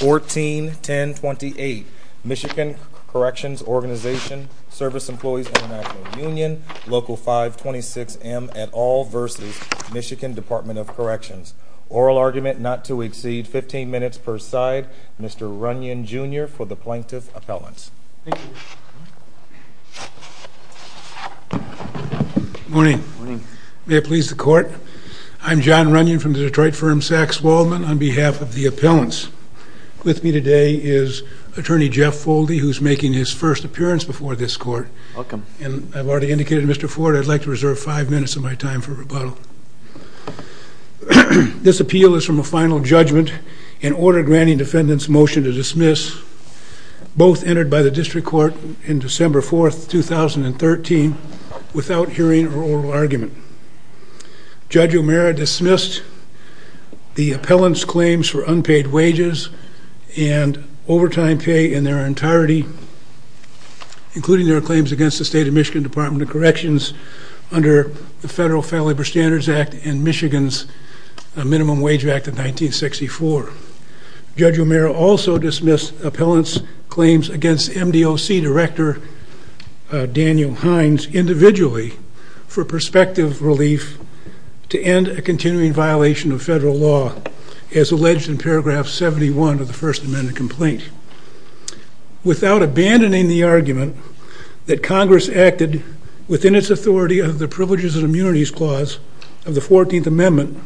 141028 Michigan Corrections Organization, Service Employees International Union, Local 526 M at All, Versity, Michigan, Department of Corrections. Oral argument not to exceed 15 minutes per side. Mr. Runyon, Jr. for the Plaintiff's Appellants. Thank you. Good morning. May it please the Court. I'm John Runyon from the Detroit firm Saks Waldman on behalf of the Appellants. With me today is Attorney Jeff Foldy who's making his first appearance before this Court. Welcome. And I've already indicated to Mr. Ford I'd like to reserve five minutes of my time for rebuttal. This appeal is from a final judgment and order granting defendant's motion to dismiss, both entered by the District Court on December 4th, 2013, without hearing or oral argument. Judge O'Mara dismissed the Appellants' claims for unpaid wages and overtime pay in their entirety, including their claims against the State of Michigan Department of Corrections under the Federal Fair Labor Standards Act and Michigan's Minimum Wage Act of 1964. Judge O'Mara also dismissed Appellants' claims against MDOC Director Daniel Hines individually for prospective relief to end a continuing violation of federal law as alleged in paragraph 71 of the First Amendment complaint. Without abandoning the argument that Congress acted within its authority under the Privileges and Immunities Clause of the 14th Amendment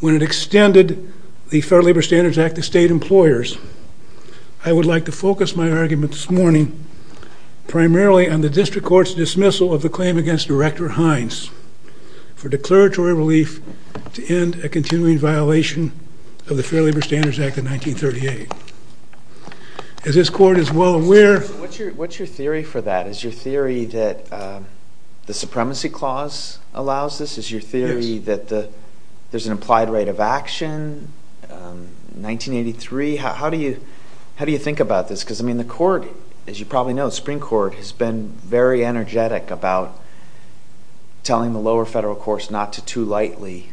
when it extended the Federal Labor Standards Act to state employers, I would like to focus my argument this morning primarily on the District Court's dismissal of the claim against Director Hines for declaratory relief to end a continuing violation of the Federal Labor Standards Act of 1938. As this Court is well aware... What's your theory for that? Is your theory that the Supremacy Clause allows this? Is your theory that there's an implied rate of action in 1983? How do you think about this? Because, I mean, the Court, as you probably know, the Supreme Court, has been very energetic about telling the lower federal courts not to too lightly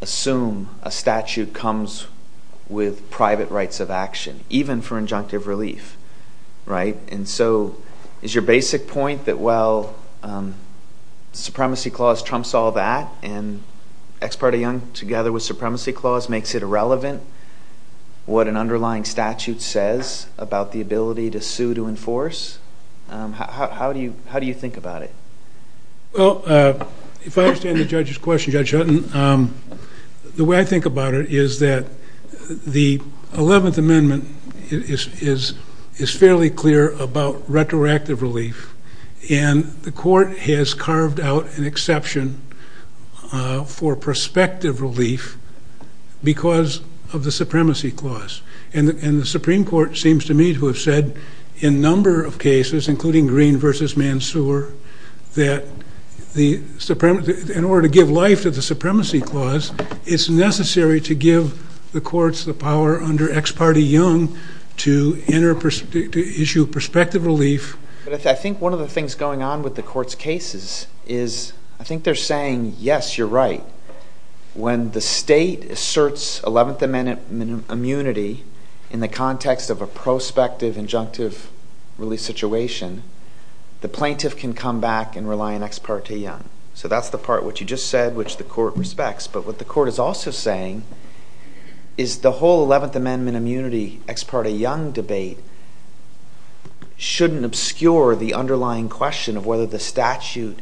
assume a statute comes with private rights of action, even for injunctive relief. Right? And so, is your basic point that, well, the Supremacy Clause trumps all that, and Ex Parte Young, together with the Supremacy Clause, makes it irrelevant what an underlying statute says about the ability to sue to enforce? How do you think about it? Well, if I understand the Judge's question, Judge Hutton, the way I think about it is that the 11th Amendment is fairly clear about retroactive relief, and the Court has carved out an exception for prospective relief because of the Supremacy Clause. And the Supreme Court seems to me to have said, in a number of cases, including Green v. Mansoor, that in order to give life to the Supremacy Clause, it's necessary to give the courts the power under Ex Parte Young to issue prospective relief. But I think one of the things going on with the Court's cases is, I think they're saying, yes, you're right, when the state asserts 11th Amendment immunity in the context of a prospective injunctive relief situation, the plaintiff can come back and rely on Ex Parte Young. So that's the part, what you just said, which the Court respects. But what the Court is also saying is the whole 11th Amendment immunity, Ex Parte Young debate shouldn't obscure the underlying question of whether the statute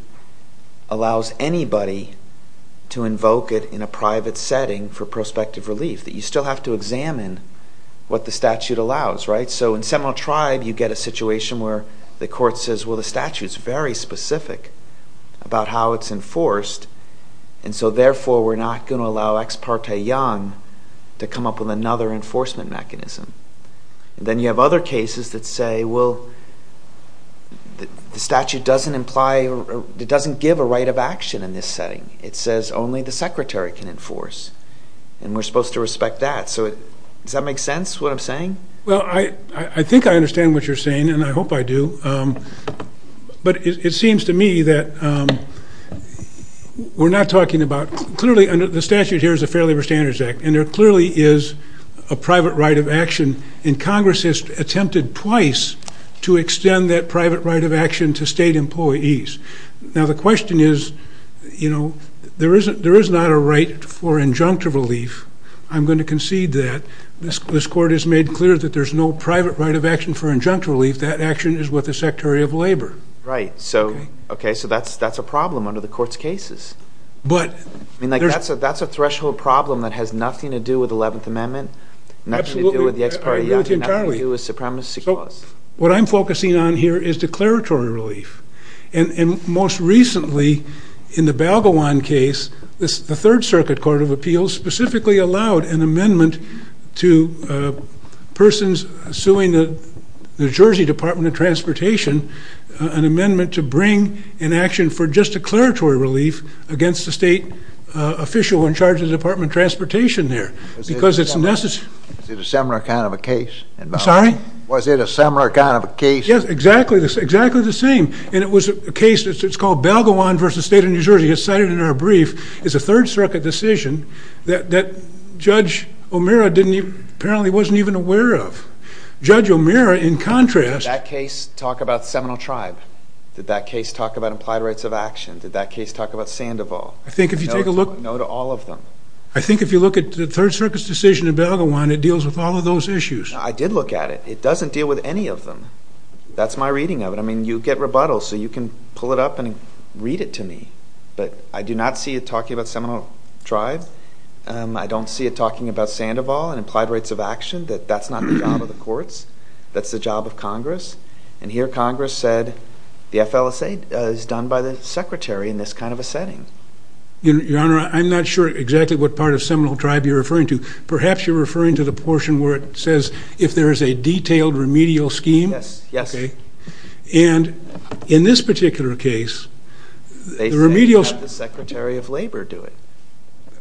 allows anybody to invoke it in a private setting for prospective relief. You still have to examine what the statute allows, right? So in Seminole Tribe, you get a situation where the Court says, well, the statute's very specific about how it's enforced, and so therefore we're not going to allow Ex Parte Young to come up with another enforcement mechanism. Then you have other cases that say, well, the statute doesn't imply, it doesn't give a right of action in this setting. It says only the Secretary can enforce, and we're supposed to respect that. So does that make sense, what I'm saying? Well, I think I understand what you're saying, and I hope I do. But it seems to me that we're not talking about, clearly the statute here is a Fair Labor Standards Act, and there clearly is a private right of action, and Congress has attempted twice to extend that private right of action to state employees. Now the question is, there is not a right for injunctive relief. I'm going to concede that. This Court has made clear that there's no private right of action for injunctive relief. That action is with the Secretary of Labor. Right, so that's a problem under the Court's cases. That's a threshold problem that has nothing to do with the 11th Amendment, nothing to do with the Ex Parte Young, nothing to do with Supremacy Clause. What I'm focusing on here is declaratory relief. And most recently, in the Balgawan case, the Third Circuit Court of Appeals specifically allowed an amendment to persons suing the New Jersey Department of Transportation, an amendment to bring an action for just declaratory relief against a state official in charge of the Department of Transportation there. Was it a similar kind of a case? I'm sorry? Was it a similar kind of a case? Yes, exactly the same. And it was a case, it's called Balgawan v. State of New Jersey. It's cited in our brief. It's a Third Circuit decision that Judge O'Meara apparently wasn't even aware of. Judge O'Meara, in contrast... Did that case talk about Seminole Tribe? Did that case talk about implied rights of action? Did that case talk about Sandoval? I think if you take a look... No to all of them. I think if you look at the Third Circuit's decision in Balgawan, it deals with all of those issues. I did look at it. It doesn't deal with any of them. That's my reading of it. I mean, you get rebuttals, so you can pull it up and read it to me. But I do not see it talking about Seminole Tribe. I don't see it talking about Sandoval and implied rights of action. That's not the job of the courts. That's the job of Congress. And here Congress said, the FLSA is done by the Secretary in this kind of a setting. Your Honor, I'm not sure exactly what part of Seminole Tribe you're referring to. Perhaps you're referring to the portion where it says, if there is a detailed remedial scheme. Yes. Yes. And in this particular case... They said have the Secretary of Labor do it.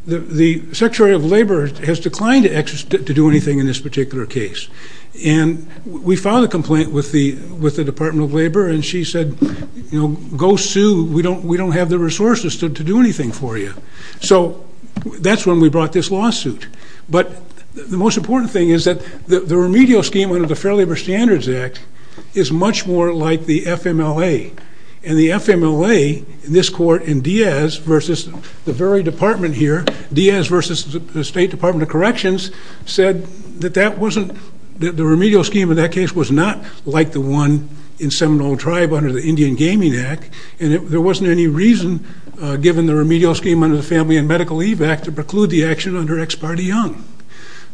The Secretary of Labor has declined to do anything in this particular case. And we filed a complaint with the Department of Labor and she said, you know, go sue. We don't have the resources to do anything for you. So that's when we brought this lawsuit. But the most important thing is that the remedial scheme under the Fair Labor Standards Act is much more like the FMLA. And the FMLA in this court in Diaz versus the very department here, Diaz versus the State Department of Corrections, said that the remedial scheme in that case was not like the one in Seminole Tribe under the Indian Gaming Act. And there wasn't any reason, given the remedial scheme under the Family and Medical Leave Act, to preclude the action under Ex parte Young.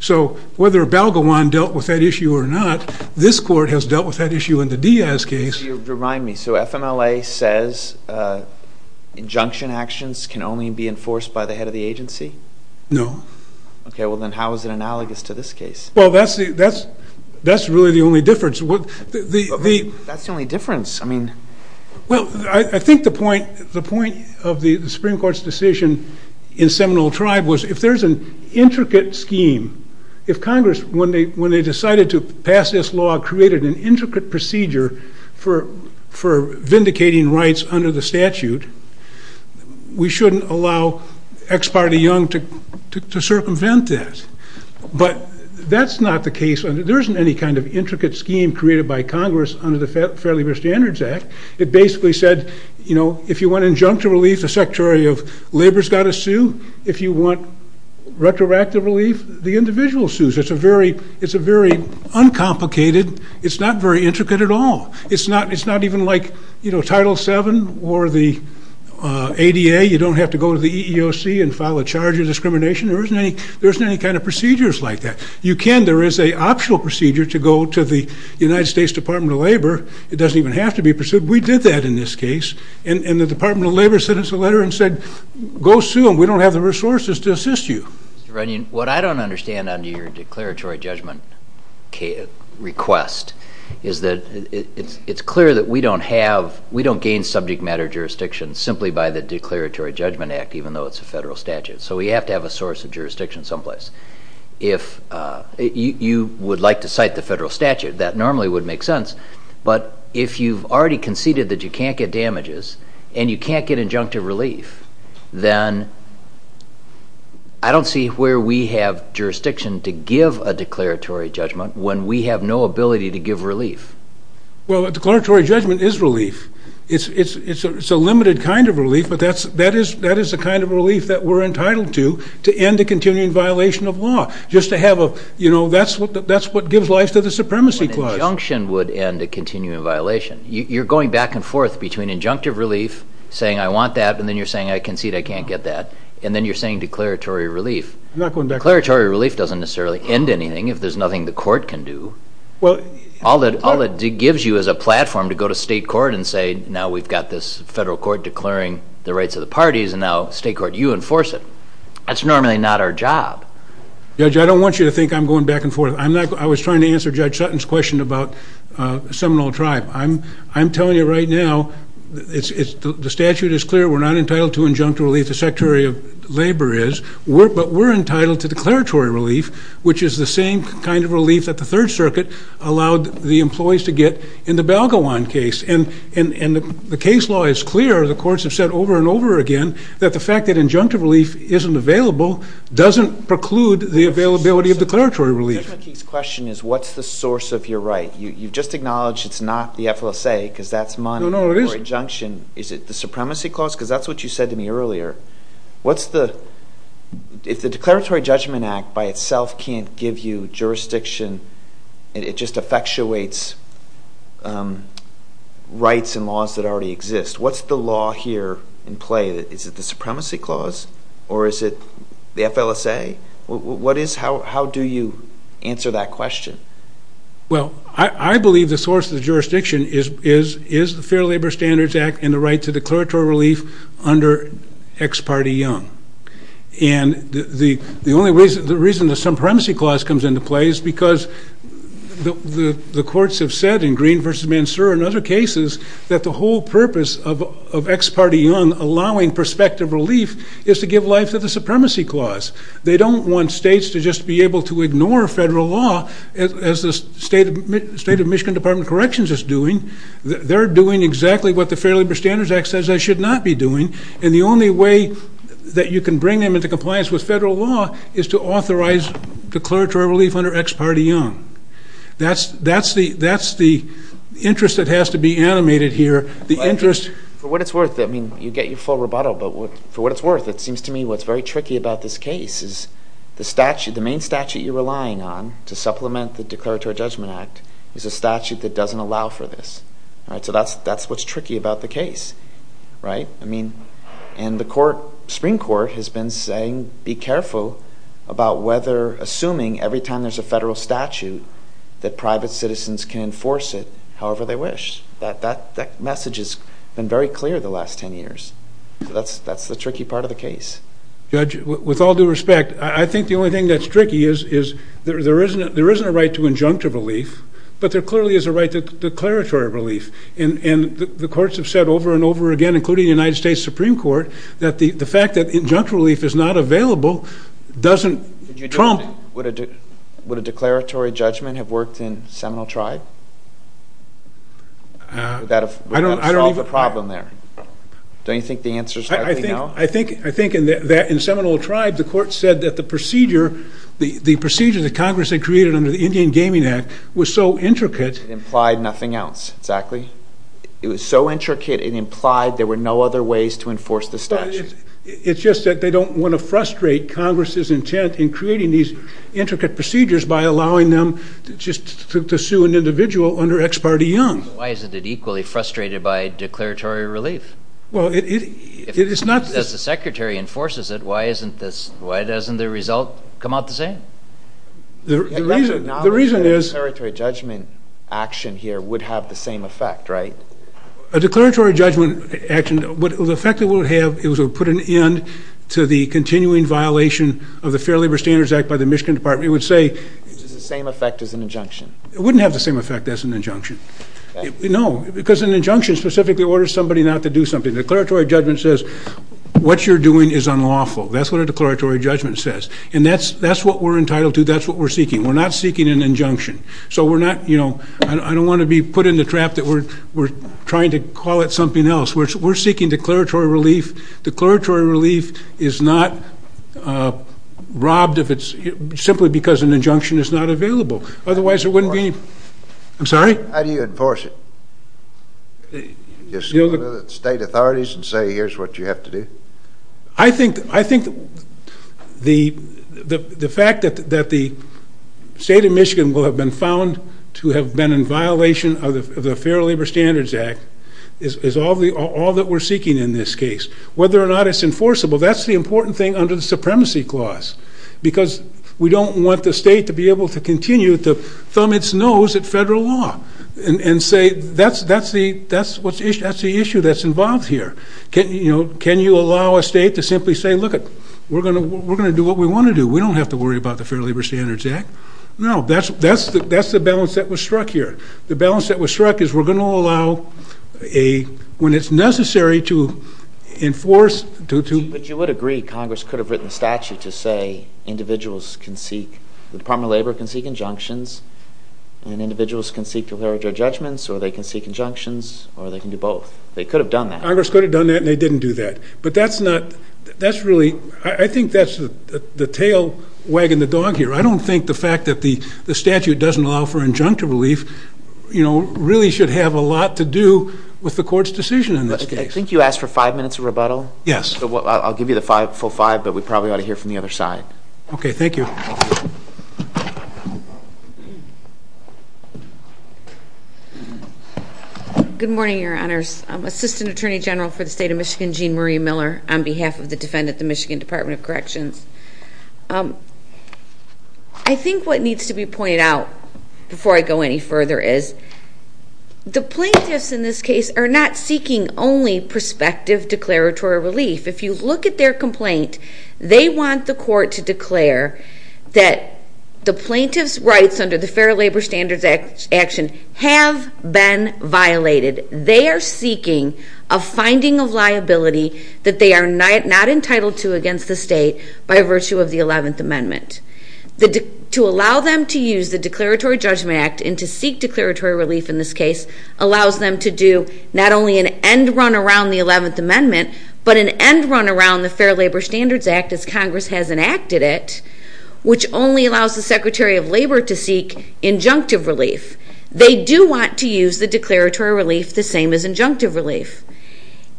So whether Balgawan dealt with that issue or not, this court has dealt with that issue in the Diaz case. Could you remind me, so FMLA says injunction actions can only be enforced by the head of the agency? No. Okay, well then how is it analogous to this case? Well, that's really the only difference. That's the only difference. I mean... for vindicating rights under the statute, we shouldn't allow Ex parte Young to circumvent that. But that's not the case. There isn't any kind of intricate scheme created by Congress under the Fair Labor Standards Act. It basically said, you know, if you want injunctive relief, the Secretary of Labor's got to sue. If you want retroactive relief, the individual sues. It's a very uncomplicated, it's not very intricate at all. It's not even like, you know, Title VII or the ADA. You don't have to go to the EEOC and file a charge of discrimination. There isn't any kind of procedures like that. You can, there is an optional procedure to go to the United States Department of Labor. It doesn't even have to be pursued. We did that in this case. And the Department of Labor sent us a letter and said, go sue them. We don't have the resources to assist you. Mr. Runyon, what I don't understand under your declaratory judgment request is that it's clear that we don't have, we don't gain subject matter jurisdiction simply by the Declaratory Judgment Act, even though it's a federal statute. So we have to have a source of jurisdiction someplace. If you would like to cite the federal statute, that normally would make sense. But if you've already conceded that you can't get damages and you can't get injunctive relief, then I don't see where we have jurisdiction to give a declaratory judgment when we have no ability to give relief. Well, a declaratory judgment is relief. It's a limited kind of relief, but that is the kind of relief that we're entitled to to end a continuing violation of law, just to have a, you know, that's what gives life to the Supremacy Clause. An injunction would end a continuing violation. You're going back and forth between injunctive relief, saying I want that, and then you're saying I concede I can't get that, and then you're saying declaratory relief. I'm not going back and forth. Declaratory relief doesn't necessarily end anything if there's nothing the court can do. All it gives you is a platform to go to state court and say, now we've got this federal court declaring the rights of the parties, and now state court, you enforce it. That's normally not our job. Judge, I don't want you to think I'm going back and forth. I was trying to answer Judge Sutton's question about Seminole Tribe. I'm telling you right now, the statute is clear. We're not entitled to injunctive relief. The Secretary of Labor is. But we're entitled to declaratory relief, which is the same kind of relief that the Third Circuit allowed the employees to get in the Balgawan case. And the case law is clear. The courts have said over and over again that the fact that injunctive relief isn't available doesn't preclude the availability of declaratory relief. Judge McKee's question is what's the source of your right? You've just acknowledged it's not the FLSA because that's money or injunction. Is it the Supremacy Clause? Because that's what you said to me earlier. If the Declaratory Judgment Act by itself can't give you jurisdiction, it just effectuates rights and laws that already exist, what's the law here in play? Is it the Supremacy Clause or is it the FLSA? How do you answer that question? Well, I believe the source of the jurisdiction is the Fair Labor Standards Act and the right to declaratory relief under Ex Parte Young. And the reason the Supremacy Clause comes into play is because the courts have said, in Green v. Mansour and other cases, that the whole purpose of Ex Parte Young allowing prospective relief is to give life to the Supremacy Clause. They don't want states to just be able to ignore federal law, as the State of Michigan Department of Corrections is doing. They're doing exactly what the Fair Labor Standards Act says they should not be doing. And the only way that you can bring them into compliance with federal law is to authorize declaratory relief under Ex Parte Young. That's the interest that has to be animated here. For what it's worth, I mean, you get your full rebuttal, but for what it's worth, it seems to me what's very tricky about this case is the main statute you're relying on to supplement the Declaratory Judgment Act is a statute that doesn't allow for this. So that's what's tricky about the case. And the Supreme Court has been saying, be careful about whether assuming every time there's a federal statute that private citizens can enforce it however they wish. That message has been very clear the last 10 years. So that's the tricky part of the case. Judge, with all due respect, I think the only thing that's tricky is there isn't a right to injunctive relief, but there clearly is a right to declaratory relief. And the courts have said over and over again, including the United States Supreme Court, that the fact that injunctive relief is not available doesn't trump... Would a declaratory judgment have worked in Seminole Tribe? Would that have solved the problem there? Don't you think the answer is likely no? I think in Seminole Tribe the court said that the procedure that Congress had created under the Indian Gaming Act was so intricate... It implied nothing else, exactly. It was so intricate it implied there were no other ways to enforce the statute. It's just that they don't want to frustrate Congress's intent in creating these intricate procedures by allowing them just to sue an individual under ex parte young. Why isn't it equally frustrated by declaratory relief? Well, it's not... If the Secretary enforces it, why doesn't the result come out the same? The reason is... A declaratory judgment action here would have the same effect, right? A declaratory judgment action... The effect it would have is it would put an end to the continuing violation of the Fair Labor Standards Act by the Michigan Department. It would say... It would have the same effect as an injunction. It wouldn't have the same effect as an injunction. No, because an injunction specifically orders somebody not to do something. A declaratory judgment says what you're doing is unlawful. That's what a declaratory judgment says. And that's what we're entitled to. That's what we're seeking. We're not seeking an injunction. I don't want to be put in the trap that we're trying to call it something else. We're seeking declaratory relief. Declaratory relief is not robbed simply because an injunction is not available. Otherwise, it wouldn't be... I'm sorry? How do you enforce it? Just go to the state authorities and say here's what you have to do? I think the fact that the state of Michigan will have been found to have been in violation of the Fair Labor Standards Act is all that we're seeking in this case. Whether or not it's enforceable, that's the important thing under the Supremacy Clause because we don't want the state to be able to continue to thumb its nose at federal law and say that's the issue that's involved here. Can you allow a state to simply say, look, we're going to do what we want to do. We don't have to worry about the Fair Labor Standards Act. No, that's the balance that was struck here. The balance that was struck is we're going to allow when it's necessary to enforce... But you would agree Congress could have written a statute to say individuals can seek, the Department of Labor can seek injunctions and individuals can seek declaratory judgments or they can seek injunctions or they can do both. They could have done that. Congress could have done that and they didn't do that. But that's not... I think that's the tail wagging the dog here. I don't think the fact that the statute doesn't allow for injunctive relief really should have a lot to do with the court's decision in this case. I think you asked for five minutes of rebuttal. Yes. I'll give you the full five, but we probably ought to hear from the other side. Okay, thank you. Good morning, Your Honors. I'm Assistant Attorney General for the State of Michigan, Jean Marie Miller, on behalf of the defendant at the Michigan Department of Corrections. I think what needs to be pointed out before I go any further is the plaintiffs in this case are not seeking only prospective declaratory relief. If you look at their complaint, they want the court to declare that the plaintiff's rights under the Fair Labor Standards Act have been violated. They are seeking a finding of liability that they are not entitled to against the state by virtue of the Eleventh Amendment. To allow them to use the Declaratory Judgment Act and to seek declaratory relief in this case allows them to do not only an end run around the Eleventh Amendment, but an end run around the Fair Labor Standards Act as Congress has enacted it, which only allows the Secretary of Labor to seek injunctive relief. They do want to use the declaratory relief the same as injunctive relief.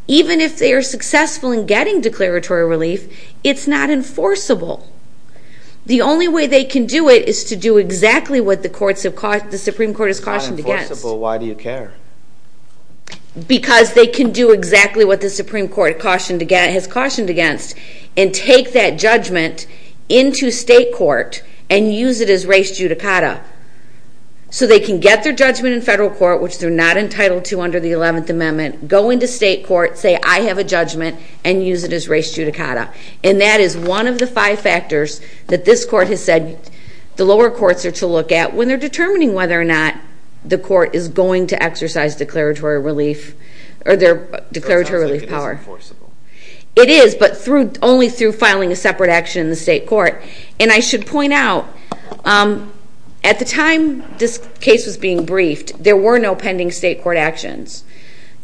Even if they are successful in getting declaratory relief, it's not enforceable. The only way they can do it is to do exactly what the Supreme Court has cautioned against. If it's not enforceable, why do you care? Because they can do exactly what the Supreme Court has cautioned against and take that judgment into state court and use it as res judicata. So they can get their judgment in federal court, which they're not entitled to under the Eleventh Amendment, go into state court, say, I have a judgment, and use it as res judicata. And that is one of the five factors that this court has said the lower courts are to look at when they're determining whether or not the court is going to exercise declaratory relief or their declaratory relief power. It's not enforceable. It is, but only through filing a separate action in the state court. And I should point out, at the time this case was being briefed, there were no pending state court actions.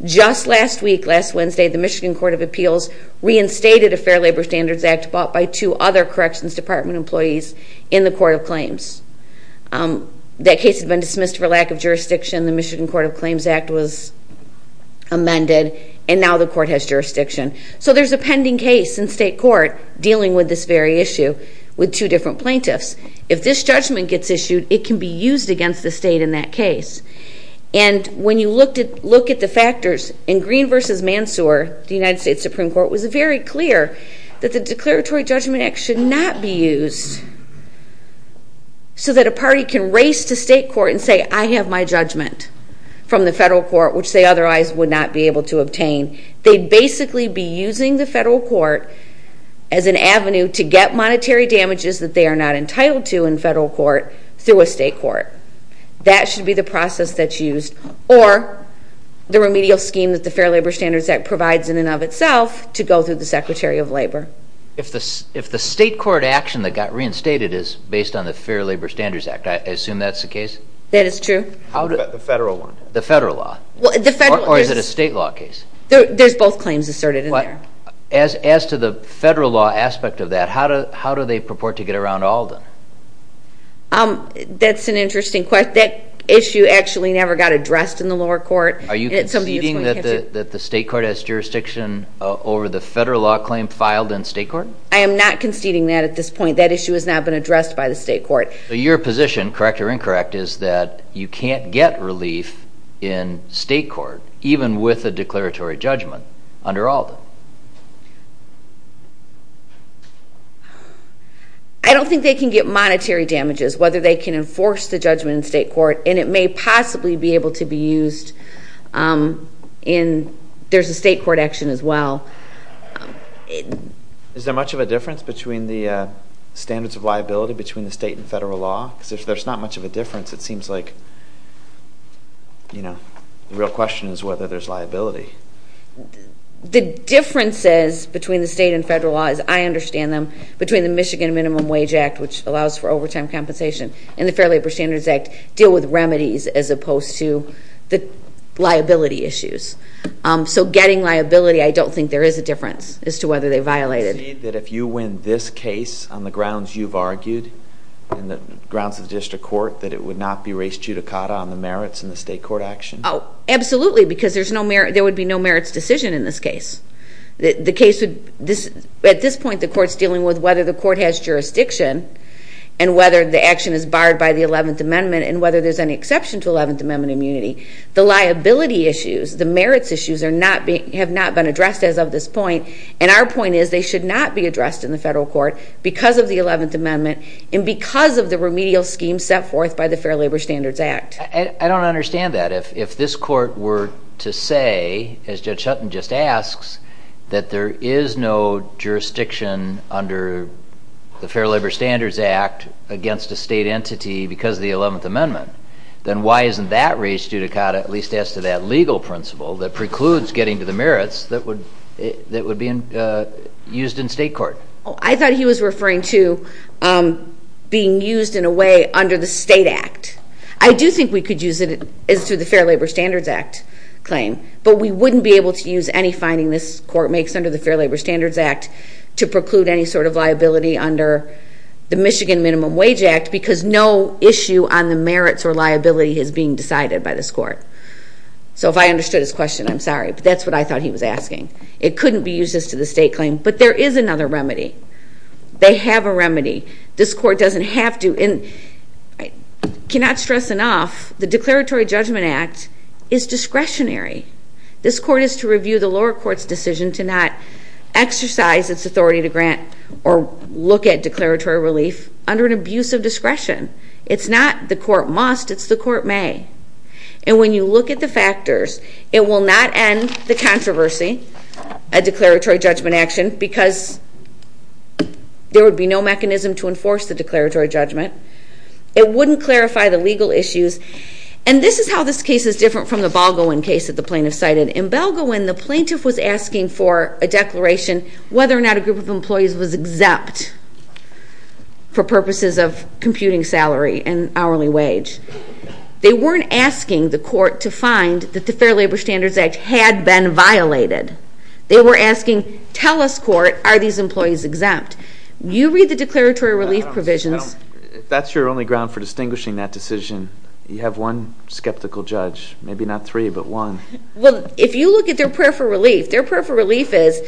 Just last week, last Wednesday, the Michigan Court of Appeals reinstated a Fair Labor Standards Act brought by two other Corrections Department employees in the Court of Claims. That case had been dismissed for lack of jurisdiction. The Michigan Court of Claims Act was amended, and now the court has jurisdiction. So there's a pending case in state court dealing with this very issue with two different plaintiffs. If this judgment gets issued, it can be used against the state in that case. And when you look at the factors in Green v. Mansour, the United States Supreme Court, it was very clear that the Declaratory Judgment Act should not be used so that a party can race to state court and say, I have my judgment from the federal court, which they otherwise would not be able to obtain. They'd basically be using the federal court as an avenue to get monetary damages that they are not entitled to in federal court through a state court. That should be the process that's used, or the remedial scheme that the Fair Labor Standards Act provides in and of itself to go through the Secretary of Labor. If the state court action that got reinstated is based on the Fair Labor Standards Act, I assume that's the case? That is true. The federal one. The federal law. Or is it a state law case? There's both claims asserted in there. As to the federal law aspect of that, how do they purport to get around all of them? That's an interesting question. That issue actually never got addressed in the lower court. Are you conceding that the state court has jurisdiction over the federal law claim filed in state court? I am not conceding that at this point. That issue has not been addressed by the state court. Your position, correct or incorrect, is that you can't get relief in state court, even with a declaratory judgment under ALDA. I don't think they can get monetary damages, whether they can enforce the judgment in state court, and it may possibly be able to be used in there's a state court action as well. Is there much of a difference between the standards of liability between the state and federal law? Because if there's not much of a difference, it seems like the real question is whether there's liability. The differences between the state and federal law, as I understand them, between the Michigan Minimum Wage Act, which allows for overtime compensation, and the Fair Labor Standards Act, deal with remedies as opposed to the liability issues. So getting liability, I don't think there is a difference as to whether they violate it. Do you concede that if you win this case on the grounds you've argued, on the grounds of the district court, that it would not be res judicata on the merits in the state court action? Oh, absolutely, because there would be no merits decision in this case. At this point, the court's dealing with whether the court has jurisdiction, and whether the action is barred by the 11th Amendment, and whether there's any exception to 11th Amendment immunity. The liability issues, the merits issues, have not been addressed as of this point, and our point is they should not be addressed in the federal court because of the 11th Amendment, and because of the remedial scheme set forth by the Fair Labor Standards Act. I don't understand that. If this court were to say, as Judge Shutton just asks, that there is no jurisdiction under the Fair Labor Standards Act against a state entity because of the 11th Amendment, then why isn't that res judicata, at least as to that legal principle, that precludes getting to the merits that would be used in state court? I thought he was referring to being used in a way under the state act. I do think we could use it as to the Fair Labor Standards Act claim, but we wouldn't be able to use any finding this court makes under the Fair Labor Standards Act to preclude any sort of liability under the Michigan Minimum Wage Act because no issue on the merits or liability is being decided by this court. So if I understood his question, I'm sorry, but that's what I thought he was asking. It couldn't be used as to the state claim, but there is another remedy. They have a remedy. This court doesn't have to, and I cannot stress enough, the Declaratory Judgment Act is discretionary. This court is to review the lower court's decision to not exercise its authority to grant or look at declaratory relief under an abuse of discretion. It's not the court must, it's the court may. And when you look at the factors, it will not end the controversy at declaratory judgment action because there would be no mechanism to enforce the declaratory judgment. It wouldn't clarify the legal issues. And this is how this case is different from the Balgoin case that the plaintiff cited. In Balgoin, the plaintiff was asking for a declaration whether or not a group of employees was exempt for purposes of computing salary and hourly wage. They weren't asking the court to find that the Fair Labor Standards Act had been violated. They were asking, tell us, court, are these employees exempt? You read the declaratory relief provisions. If that's your only ground for distinguishing that decision, you have one skeptical judge. Maybe not three, but one. Well, if you look at their prayer for relief, their prayer for relief is,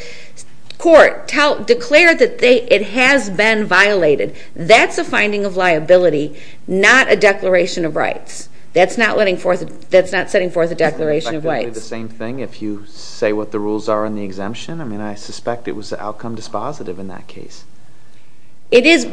court, declare that it has been violated. That's a finding of liability, not a declaration of rights. That's not setting forth a declaration of rights. It's probably the same thing if you say what the rules are on the exemption. I mean, I suspect it was outcome dispositive in that case. It is,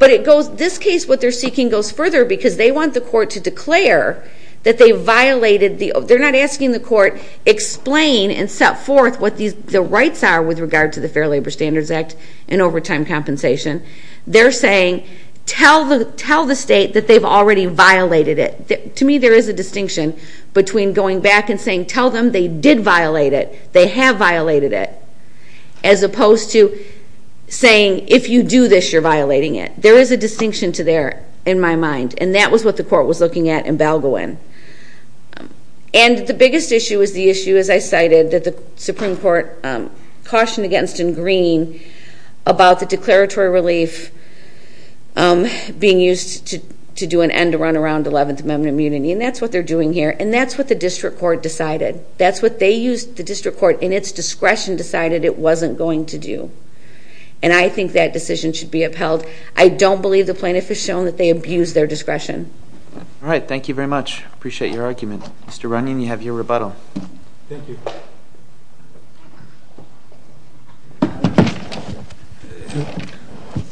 but it goes, this case, what they're seeking goes further because they want the court to declare that they violated the, they're not asking the court explain and set forth what the rights are with regard to the Fair Labor Standards Act and overtime compensation. They're saying, tell the state that they've already violated it. To me, there is a distinction between going back and saying, tell them they did violate it, they have violated it, as opposed to saying, if you do this, you're violating it. There is a distinction to there in my mind, and that was what the court was looking at in Balgoin. And the biggest issue is the issue, as I cited, that the Supreme Court cautioned against in Green about the declaratory relief being used to do an end-to-run around 11th Amendment immunity, and that's what they're doing here, and that's what the district court decided. That's what they used the district court in its discretion decided it wasn't going to do. And I think that decision should be upheld. I don't believe the plaintiff has shown that they abused their discretion. All right, thank you very much. Appreciate your argument. Mr. Runyon, you have your rebuttal. Thank you.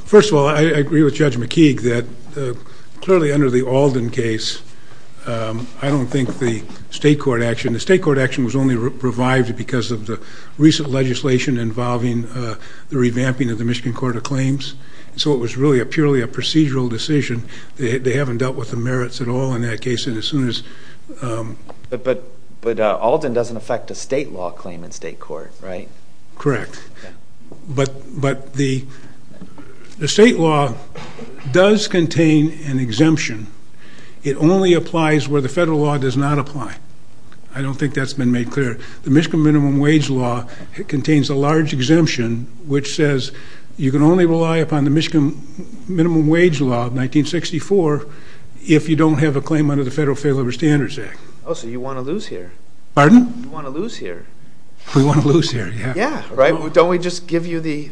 First of all, I agree with Judge McKeague that clearly under the Alden case, I don't think the state court action was only revived because of the recent legislation involving the revamping of the Michigan Court of Claims. So it was really purely a procedural decision. They haven't dealt with the merits at all in that case. But Alden doesn't affect a state law claim in state court, right? Correct. But the state law does contain an exemption. It only applies where the federal law does not apply. I don't think that's been made clear. The Michigan Minimum Wage Law contains a large exemption which says you can only rely upon the Michigan Minimum Wage Law of 1964 if you don't have a claim under the Federal Failure of Standards Act. Oh, so you want to lose here. Pardon? You want to lose here. We want to lose here, yeah. Yeah, right? Don't we just give you the...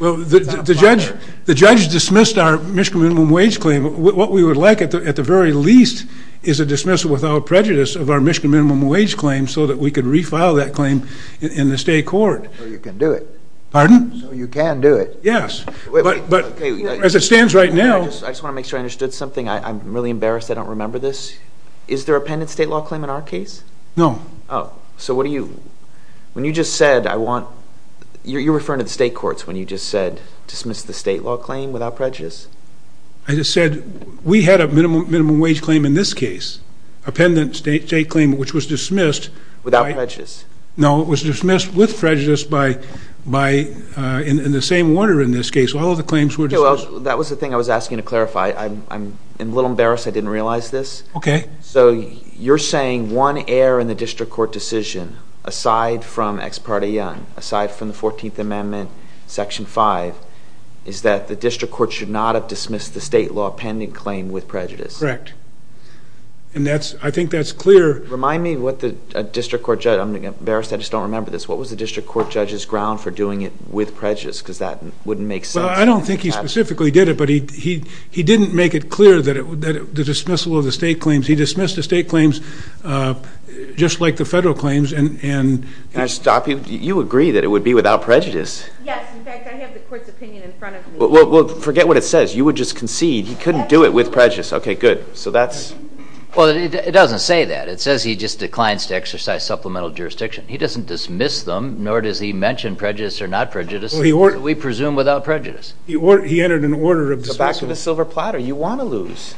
Well, the judge dismissed our Michigan Minimum Wage Claim. What we would like at the very least is a dismissal without prejudice of our Michigan Minimum Wage Claim so that we could refile that claim in the state court. So you can do it. Pardon? So you can do it. Yes. But as it stands right now... I just want to make sure I understood something. I'm really embarrassed I don't remember this. Is there a penitent state law claim in our case? No. Oh. Okay. So what do you... When you just said I want... You're referring to the state courts when you just said dismiss the state law claim without prejudice. I just said we had a minimum wage claim in this case, a penitent state claim which was dismissed... Without prejudice. No, it was dismissed with prejudice in the same order in this case. All of the claims were dismissed. Okay, well, that was the thing I was asking to clarify. I'm a little embarrassed I didn't realize this. Okay. So you're saying one error in the district court decision aside from Ex Parte Young, aside from the 14th Amendment, Section 5, is that the district court should not have dismissed the state law pending claim with prejudice. Correct. And I think that's clear. Remind me what the district court judge... I'm embarrassed I just don't remember this. What was the district court judge's ground for doing it with prejudice because that wouldn't make sense. Well, I don't think he specifically did it, but he didn't make it clear that the dismissal of the state claims, he dismissed the state claims just like the federal claims and... Can I stop you? You agree that it would be without prejudice. Yes. In fact, I have the court's opinion in front of me. Well, forget what it says. You would just concede he couldn't do it with prejudice. Okay, good. So that's... Well, it doesn't say that. It says he just declines to exercise supplemental jurisdiction. He doesn't dismiss them, nor does he mention prejudice or not prejudice. We presume without prejudice. He entered an order of dismissal. Go back to the silver platter. You want to lose.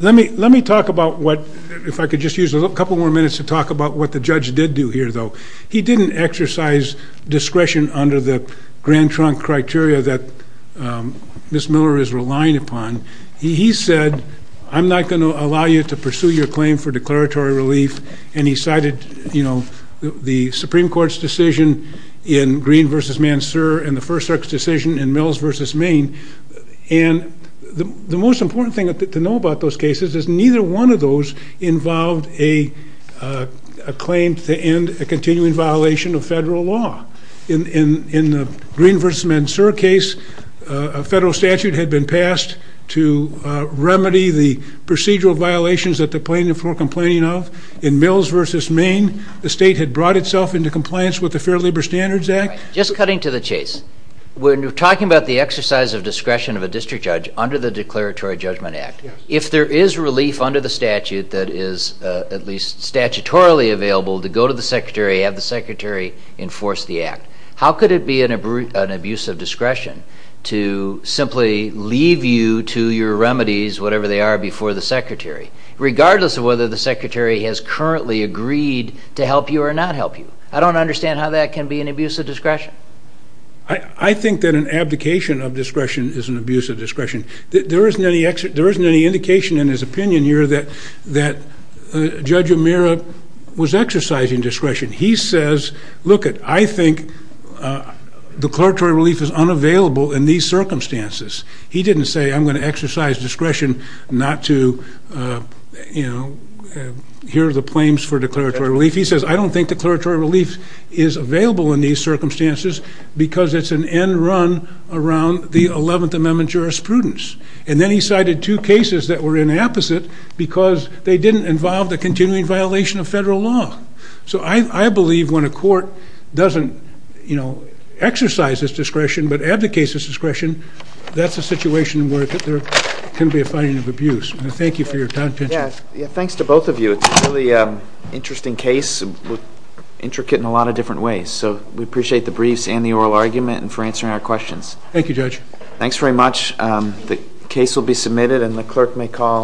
Let me talk about what... If I could just use a couple more minutes to talk about what the judge did do here, though. He didn't exercise discretion under the Grand Trunk criteria that Ms. Miller is relying upon. He said, I'm not going to allow you to pursue your claim for declaratory relief, and he cited the Supreme Court's decision in Green v. Mansour and the First Circuit's decision in Mills v. Maine. And the most important thing to know about those cases is neither one of those involved a claim to end a continuing violation of federal law. In the Green v. Mansour case, a federal statute had been passed to remedy the procedural violations that the plaintiff was complaining of. In Mills v. Maine, the state had brought itself into compliance with the Fair Labor Standards Act. Just cutting to the chase. When you're talking about the exercise of discretion of a district judge under the Declaratory Judgment Act, if there is relief under the statute that is at least statutorily available to go to the secretary, have the secretary enforce the act, how could it be an abuse of discretion to simply leave you to your remedies, whatever they are, before the secretary, regardless of whether the secretary has currently agreed to help you or not help you? I don't understand how that can be an abuse of discretion. I think that an abdication of discretion is an abuse of discretion. There isn't any indication in his opinion here that Judge O'Meara was exercising discretion. He says, lookit, I think declaratory relief is unavailable in these circumstances. He didn't say I'm going to exercise discretion not to, you know, hear the claims for declaratory relief. He says I don't think declaratory relief is available in these circumstances because it's an end run around the 11th Amendment jurisprudence. And then he cited two cases that were in the opposite because they didn't involve the continuing violation of federal law. So I believe when a court doesn't, you know, exercise its discretion but abdicates its discretion, that's a situation where there can be a finding of abuse. Thank you for your time. Thanks to both of you. It's a really interesting case, intricate in a lot of different ways. So we appreciate the briefs and the oral argument and for answering our questions. Thank you, Judge. Thanks very much. The case will be submitted and the clerk may call.